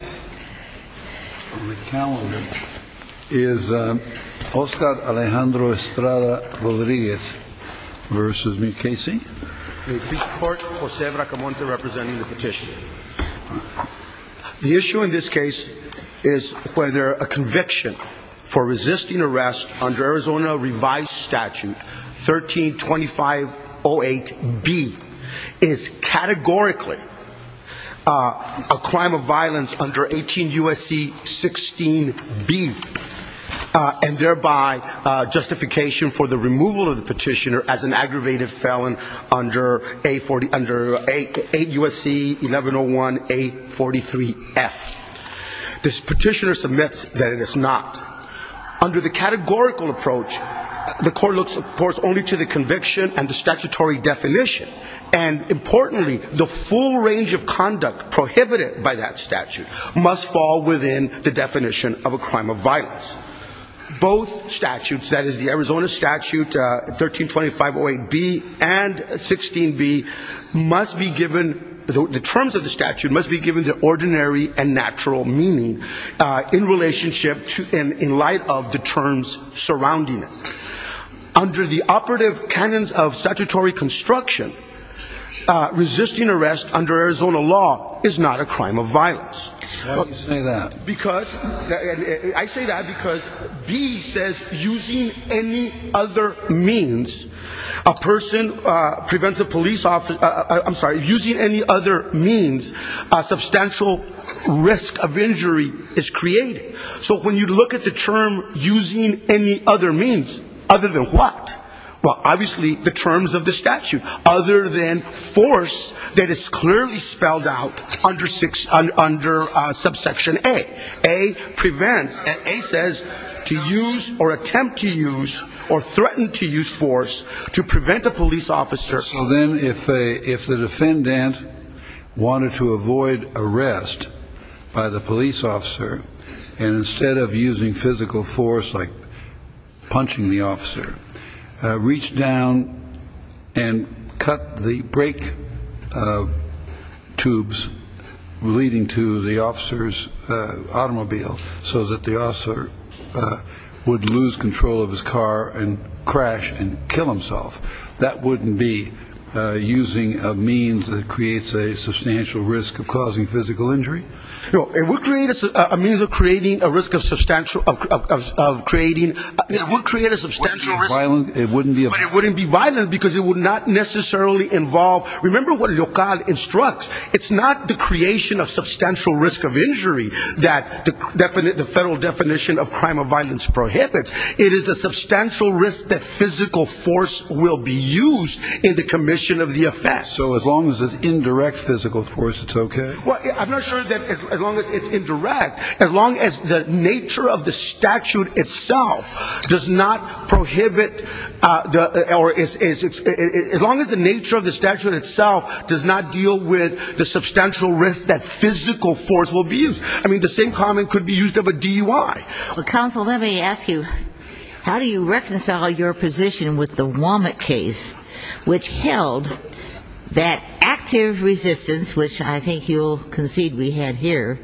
The issue in this case is whether a conviction for resisting arrest under Arizona revised statute 13-2508-B is categorically a crime of violence under 18 U.S.C. 16-B and thereby justification for the removal of the petitioner as an aggravated felon under 8 U.S.C. 1101-A43-F. This petitioner submits that it is not. Under the categorical approach, the court looks of course only to the conviction and the statutory definition. And importantly, the full range of conduct prohibited by that statute must fall within the definition of a crime of violence. Both statutes, that is the Arizona statute 13-2508-B and 16-B must be given, the terms of the statute must be given the ordinary and natural meaning in relationship to and in light of the terms surrounding it. Under the operative canons of statutory construction, resisting arrest under Arizona law is not a crime of violence. Why do you say that? I say that because B says using any other means, a person prevents a police officer, using any other means, a substantial risk of injury is created. So when you look at the term using any other means, other than what? Well, obviously the terms of the statute other than force that is clearly spelled out under subsection A. A says to use or attempt to use or threaten to use force to prevent a police officer. So then if a if the defendant wanted to avoid arrest by the police officer and instead of using physical force like punching the officer, reach down and cut the brake tubes leading to the officer's automobile so that the officer would lose control of his car and crash and kill himself, that wouldn't be using a means that creates a substantial risk of causing physical injury? No, it would create a means of creating a risk of substantial, of creating, it would create a substantial risk, but it wouldn't be violent because it would not necessarily involve, remember what Local instructs, it's not the creation of substantial risk of injury that the definite, the federal definition of crime of violence prohibits. It is the substantial risk that physical force will be used in the commission of the offense. So as long as it's indirect physical force, it's okay? Well, I'm not sure that as long as it's indirect, as long as the nature of the statute itself does not prohibit the, or as long as the nature of the statute itself does not deal with the substantial risk that physical force will be used. I mean, the same comment could be used of a DUI. Well, counsel, let me ask you, how do you reconcile your position with the Womack case, which held that active resistance, which I think you'll concede we had here,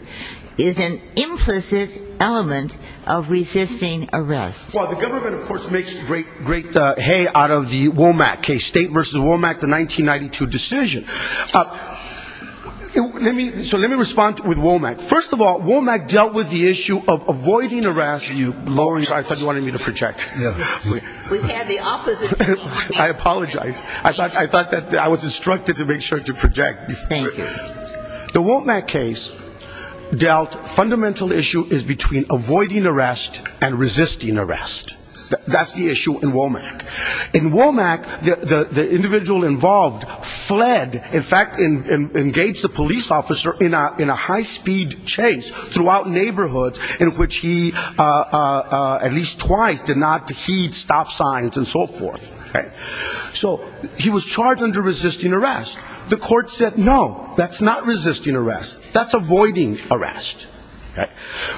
is an implicit element of resisting arrest? Well, the government, of course, makes great hay out of the Womack case, State v. Womack, the 1992 decision. So let me respond with Womack. First of all, Womack dealt with the issue of avoiding arrest. I thought you wanted me to project. Yes. We had the opposite. I apologize. I thought that I was instructed to make sure to project. The Womack case dealt, fundamental issue is between avoiding arrest and resisting arrest. That's the issue in Womack. In Womack, the individual involved fled, in fact, engaged the police officer in a high-speed chase throughout neighborhoods in which he at least twice did not heed stop signs and so forth. So he was charged under resisting arrest. The court said, no, that's not resisting arrest. That's avoiding arrest.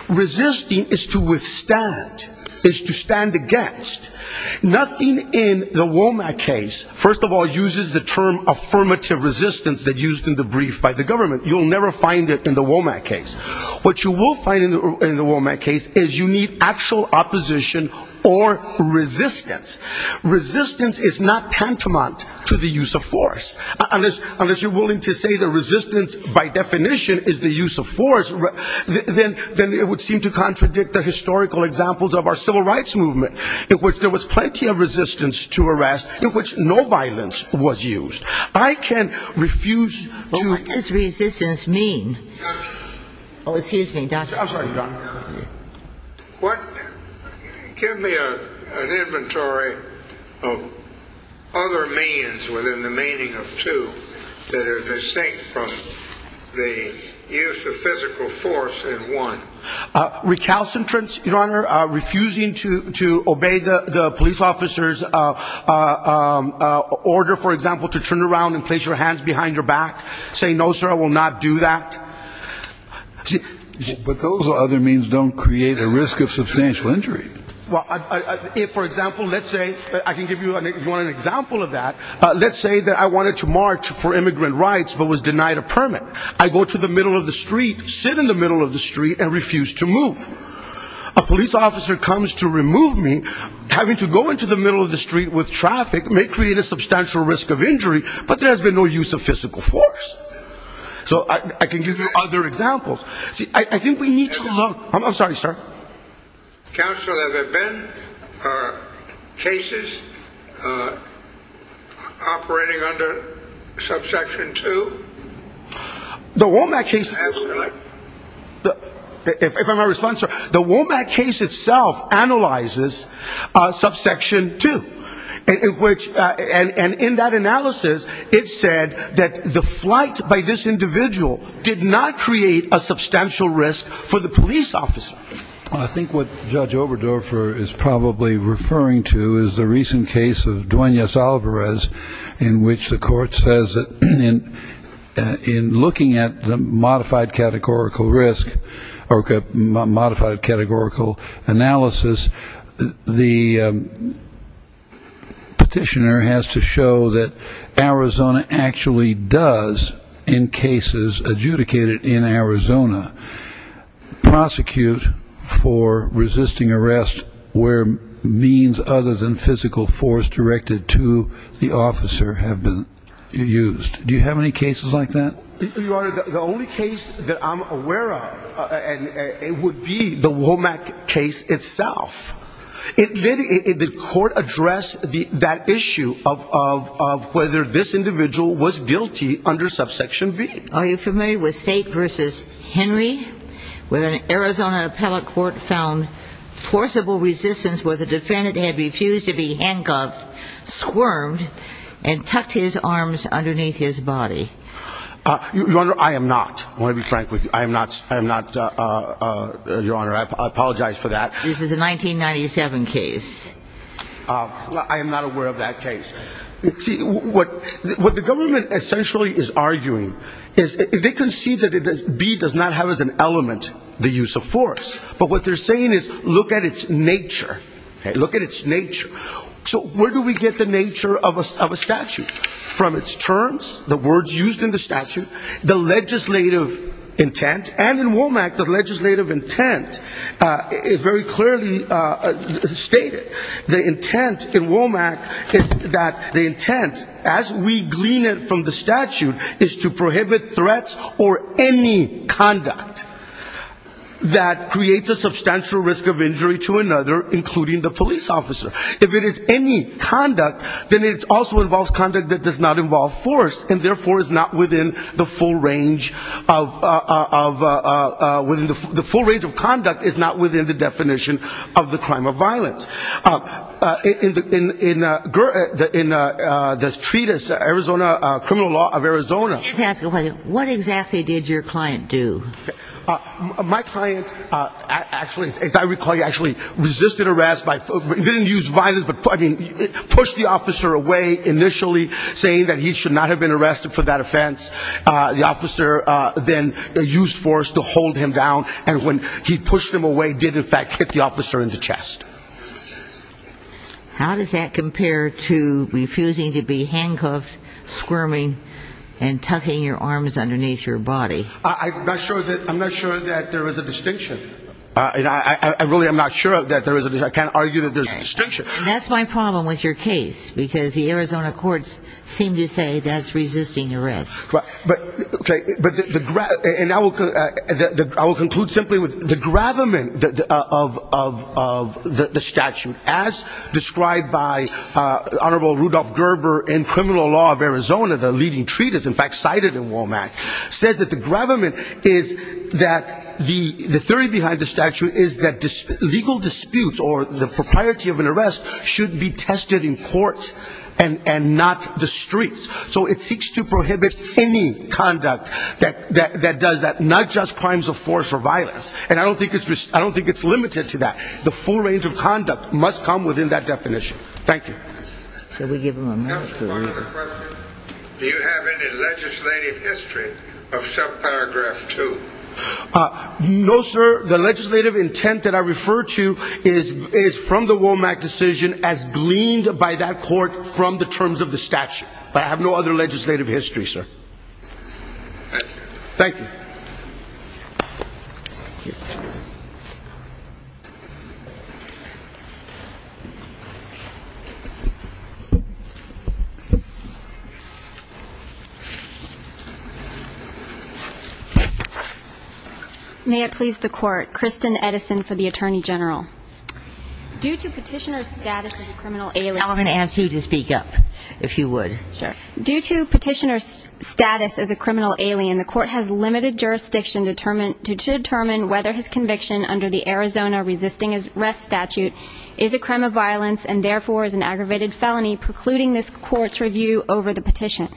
Resisting is to withstand, is to stand against. Nothing in the Womack case, first of all, uses the term affirmative resistance that used in the brief by the government. You'll never find it in the Womack case. What you will find in the Womack case is you need actual opposition or resistance. Resistance is not tantamount to the use of force. Unless you're willing to say that resistance, by definition, is the use of force, then it would seem to contradict the historical examples of our civil rights movement, in which there was plenty of resistance to arrest, in which no violence was used. I can refuse to... What does resistance mean? Oh, excuse me, Dr. I'm sorry, Dr. What... give me an inventory of other means within the meaning of two that are distinct from the use of physical force in one. Recalcitrance, Your Honor, refusing to obey the police officer's order, for example, to turn around and place your hands behind your back, saying, no, sir, I will not do that. But those other means don't create a risk of substantial injury. Well, if, for example, let's say I can give you one example of that. Let's say that I wanted to march for immigrant rights but was denied a permit. I go to the middle of the street, sit in the middle of the street and refuse to move. A police officer comes to remove me, having to go into the middle of the street with traffic may create a substantial risk of injury, but there has been no use of physical force. So I can give you other examples. See, I think we need to look... I'm sorry, sir. Counsel, have there been cases operating under subsection 2? The Womack case... If I may respond, sir. The Womack case itself analyzes subsection 2. And in that analysis, it said that the flight by this individual did not create a substantial risk for the police officer. I think what Judge Oberdorfer is probably referring to is the recent case of Duenas Alvarez in which the court says that in looking at the modified categorical risk or modified categorical analysis, the petitioner has to show that Arizona actually does, in cases adjudicated in Arizona, prosecute for resisting arrest where means other than physical force directed to the officer have been used. Do you have any cases like that? Your Honor, the only case that I'm aware of, and it would be the Womack case itself. It literally... The court addressed that issue of whether this individual was guilty under subsection B. Are you familiar with State v. Henry, where an Arizona appellate court found forcible resistance where the defendant had refused to be handcuffed, squirmed, and tucked his arms underneath his body? Your Honor, I am not. I want to be frank with you. I am not, Your Honor. I apologize for that. This is a 1997 case. I am not aware of that case. See, what the government essentially is arguing is they concede that B does not have as an element the use of force. But what they're saying is look at its nature. Look at its nature. So where do we get the nature of a statute? From its terms, the words used in the statute, the legislative intent, and in Womack, the legislative intent is very clearly stated. The intent in Womack is that the intent, as we glean from the statute, is to prohibit threats or any conduct that creates a substantial risk of injury to another, including the police officer. If it is any conduct, then it also involves conduct that does not involve force and therefore is not within the full range of... The full range of conduct is within the definition of the crime of violence. In this treatise, Arizona, Criminal Law of Arizona... Let me just ask you a question. What exactly did your client do? My client actually, as I recall, actually resisted arrest by... He didn't use violence, but pushed the officer away initially saying that he should not have been arrested for that offense. The officer then used force to hold him down, and when he pushed him away, did in fact hit the officer in the chest. How does that compare to refusing to be handcuffed, squirming, and tucking your arms underneath your body? I'm not sure that there is a distinction. I really am not sure that there is a distinction. I can't argue that there's a distinction. That's my problem with your case, because the Arizona courts seem to say that's resisting arrest. I will conclude simply with the gravamen of the statute as described by Honorable Rudolph Gerber in Criminal Law of Arizona, the leading treatise in fact cited in WOMAC, said that the gravamen is that the theory behind the statute is that legal disputes or the propriety of an arrest should be tested in court and not the streets. It seeks to prohibit any conduct that does that, not just crimes of force or violence. I don't think it's limited to that. The full range of conduct must come within that definition. Thank you. Do you have any legislative history of subparagraph two? No, sir. The legislative intent that I refer to is from the WOMAC decision as gleaned by that court from the terms of the statute. I have no other legislative history, sir. Thank you. May it please the Court. Kristen Edison for the Attorney General. Due to petitioner's status as a criminal alien. Now we're going to ask you to speak up, if you would. Due to petitioner's status as a criminal alien, the court has limited jurisdiction to determine whether his conviction under the Arizona resisting arrest statute is a crime of violence and therefore is an aggravated felony precluding this court's review over the petition.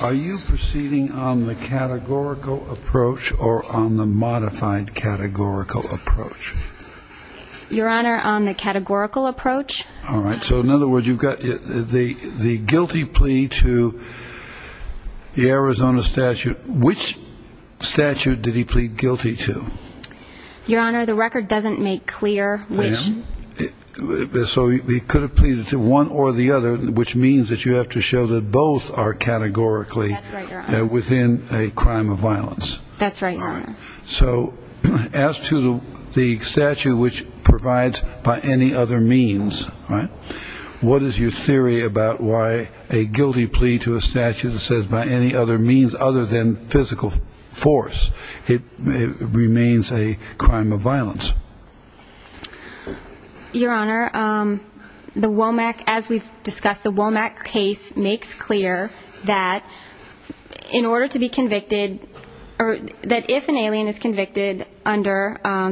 Are you proceeding on the categorical approach or on the modified categorical approach? Your Honor, on the categorical approach. All right. So in other words, you've got the guilty plea to the Arizona statute. Which statute did he plead guilty to? Your Honor, the record doesn't make clear which. So he could have pleaded to one or the other, which means that you have to show that both are categorically within a crime of violence. That's right, Your Honor. So as to the statute which provides by any other means, what is your theory about why a guilty plea to a statute that says by any other means other than physical force remains a crime of violence? Your Honor, the Womack, as we've discussed, the Womack case makes clear that in order to be convicted under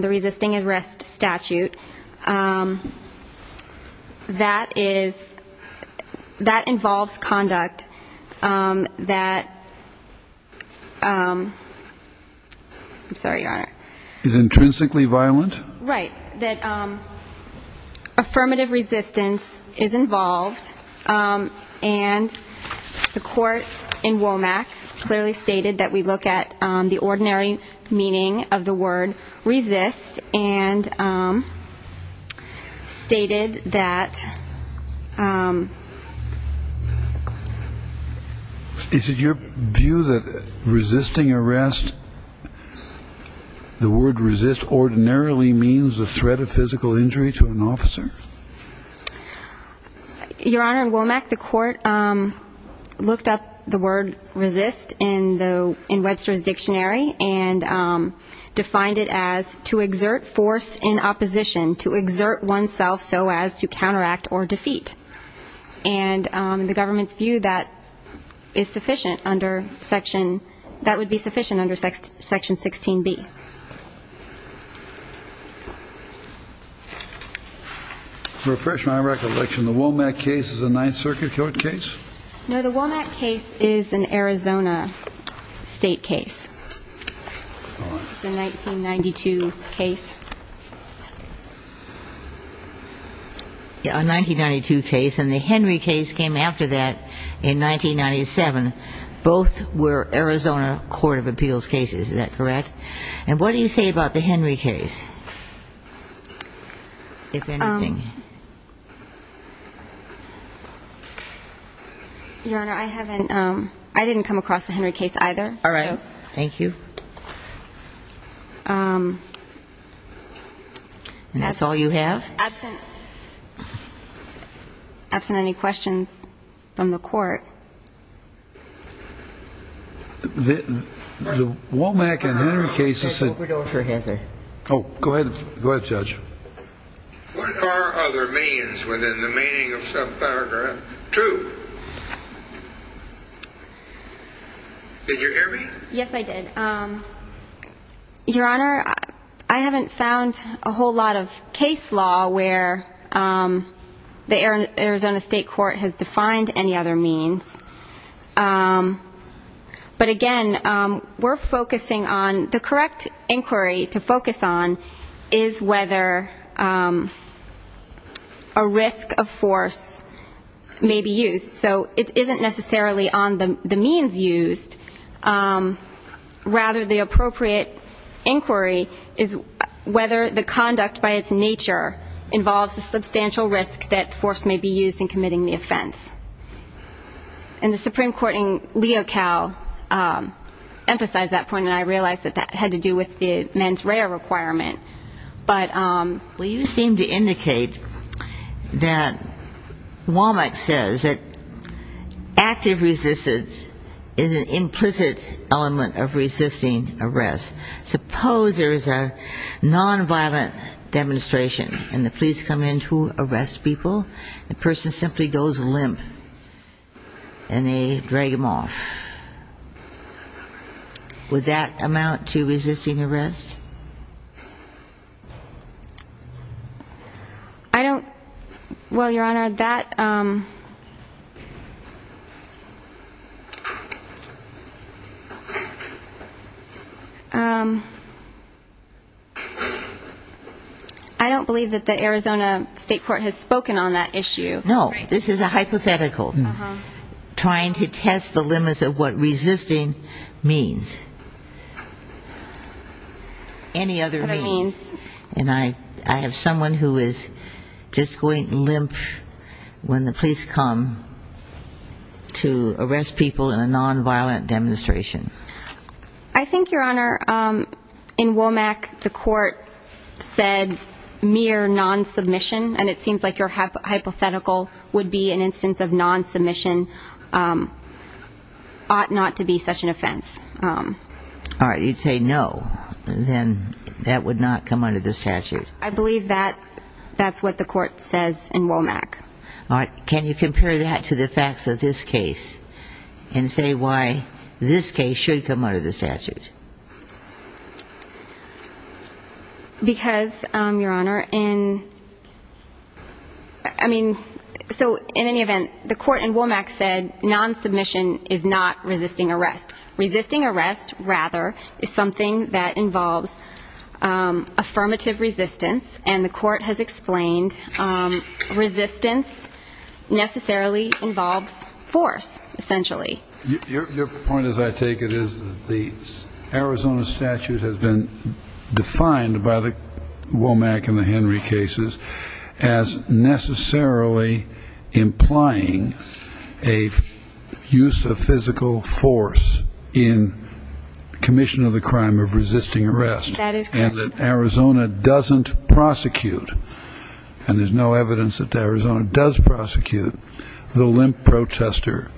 the resisting arrest statute, that is, that involves conduct that, I'm sorry, Your Honor. Is intrinsically violent? Right. That affirmative resistance is involved and the court in Womack clearly stated that we look at the ordinary meaning of the word resist and stated that... Is it your view that resisting arrest, the word resist ordinarily means a threat of physical injury to an officer? Your Honor, in Womack, the court looked up the word resist in Webster's Dictionary and defined it as to exert force in opposition, to exert oneself so as to counteract or defeat. And the government's view that is sufficient under section, that would be sufficient under section 16b. To refresh my recollection, the Womack case is a Ninth Circuit court case? No, the Womack case is an Arizona state case. It's a 1992 case. Yeah, a 1992 case and the Henry case came after that in 1997. Both were Arizona Court of Appeals cases, is that correct? And what do you say about the Henry case? Your Honor, I haven't, I didn't come across the Henry case either. All right, thank you. And that's all you have? Absent any questions from the court. The Womack and Henry cases... I don't have it. I don't have it. I don't have it. I don't have it. Go ahead, Judge. What are other means within the meaning of subparagraph two? Did you hear me? Yes, I did. Your Honor, I haven't found a whole lot of case law where the Arizona state court has defined any means. But again, we're focusing on, the correct inquiry to focus on is whether a risk of force may be used. So it isn't necessarily on the means used, rather the appropriate inquiry is whether the conduct by its nature involves a substantial risk that force may be used in committing the offense. And the Supreme Court in Leo Cal emphasized that point, and I realized that that had to do with the mens rea requirement. But... Well, you seem to indicate that Womack says that active resistance is an implicit element of people. A person simply goes limp and they drag them off. Would that amount to resisting arrest? I don't... Well, Your Honor, that... I don't believe that the Arizona state court has spoken on that issue. No, this is a hypothetical. Trying to test the limits of what resisting means. Any other means. And I have someone who is just going limp when the police come to arrest people in a non-violent demonstration. I think, Your Honor, in Womack the court said mere non-submission, and it seems like your hypothetical would be an instance of non-submission ought not to be such an offense. All right, you'd say no, then that would not come under the statute. I believe that that's what the court says in Womack. All right, can you compare that to the facts of this case and say why this case should come under the statute? Because, Your Honor, in... I mean, so in any event, the court in Womack said non-submission is not resisting arrest. Resisting arrest, rather, is something that involves affirmative resistance, and the court has explained resistance necessarily involves force, essentially. Your point, as I take it, is the Arizona statute has been defined by the Womack and the Henry cases as necessarily implying a use of physical force in commission of the crime of resisting arrest. That is correct. That Arizona doesn't prosecute, and there's no evidence that Arizona does prosecute, the limp protester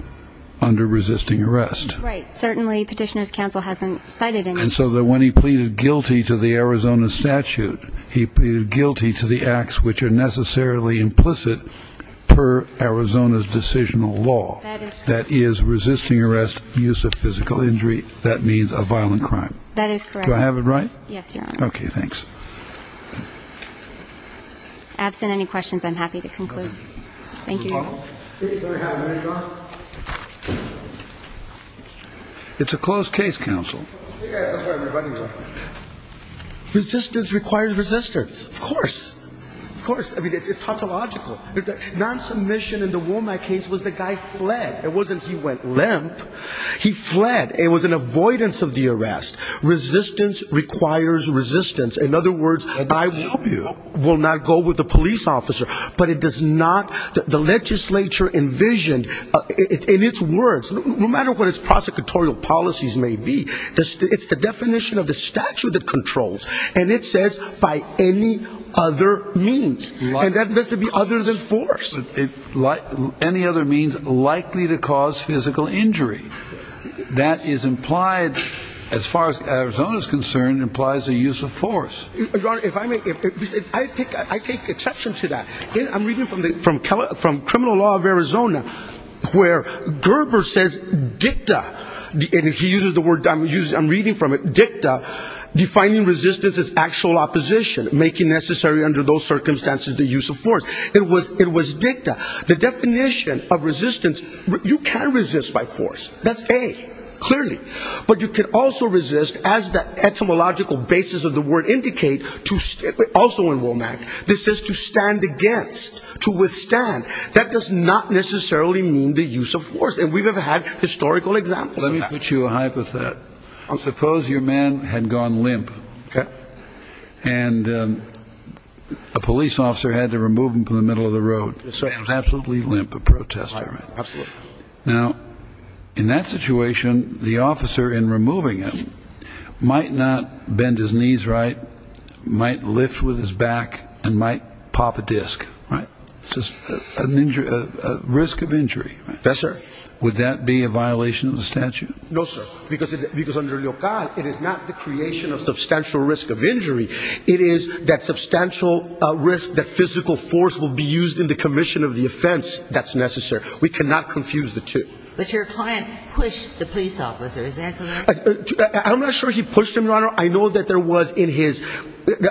under resisting arrest. Right, certainly Petitioner's counsel hasn't cited any... And so that when he pleaded guilty to the Arizona statute, he pleaded guilty to the acts which are necessarily implicit per Arizona's decisional law. That is resisting arrest, use of physical injury, that means a violent crime. That is correct. Do I have it right? Yes, Your Honor. Okay, thanks. Absent any questions, I'm happy to conclude. Thank you. It's a closed case, counsel. Resistance requires resistance. Of course, of course. I mean, it's tautological. Non-submission in the Womack case was the guy fled. It wasn't he went limp. He fled. It was an avoidance of the arrest. Resistance requires resistance. In other words, I will not go with the police officer, but it does not... The legislature envisioned in its words, no matter what its prosecutorial policies may be, it's the definition of the statute of controls. And it says by any other means, and that must be other than force. Any other means likely to cause physical injury. That is implied, as far as Arizona is concerned, implies a use of force. Your Honor, if I may, I take exception to that. I'm reading from criminal law of Arizona, where Gerber says dicta, and he uses the word, I'm reading from it, dicta, defining resistance as actual opposition, making necessary under those circumstances, the use of force. It was dicta. The definition of resistance, you can resist by force. That's A, clearly. But you can also resist as the etymological basis of the word indicate, also in Womack. This is to stand against, to withstand. That does not necessarily mean the use of force. And we've had historical examples of that. Let me put you a hypothet. Suppose your man had gone limp. And a police officer had to remove him from the middle of the road. So he was absolutely limp, a protester. Absolutely. Now, in that situation, the officer in removing him might not bend his knees, right? Might lift with his back and might pop a disc, right? Just an injury, a risk of injury. Yes, sir. Would that be a violation of the statute? No, sir. Because because under local, it is not the creation of substantial risk of injury. It is that substantial risk, that physical force will be used in the commission of the offense. That's necessary. We cannot confuse the two. But your client pushed the police officer. Is that correct? I'm not sure he pushed him, Your Honor. I know that there was in his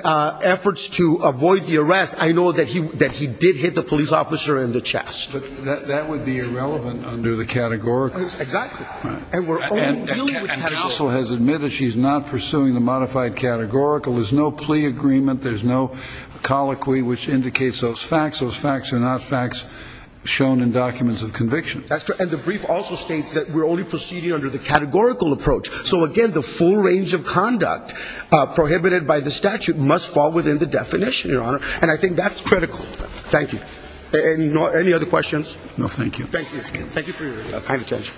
efforts to avoid the arrest. I know that he that he did hit the police officer in the chest. That would be irrelevant under the categoricals. Exactly. We're also has admitted she's not pursuing the modified categorical. There's no plea agreement. There's no colloquy which indicates those facts. Those facts are not facts shown in documents of conviction. That's true. And the brief also states that we're only proceeding under the categorical approach. So, again, the full range of conduct prohibited by the statute must fall within the definition, Your Honor. And I think that's critical. Thank you. Any other questions? No, thank you. Thank you. Thank you for your kind attention.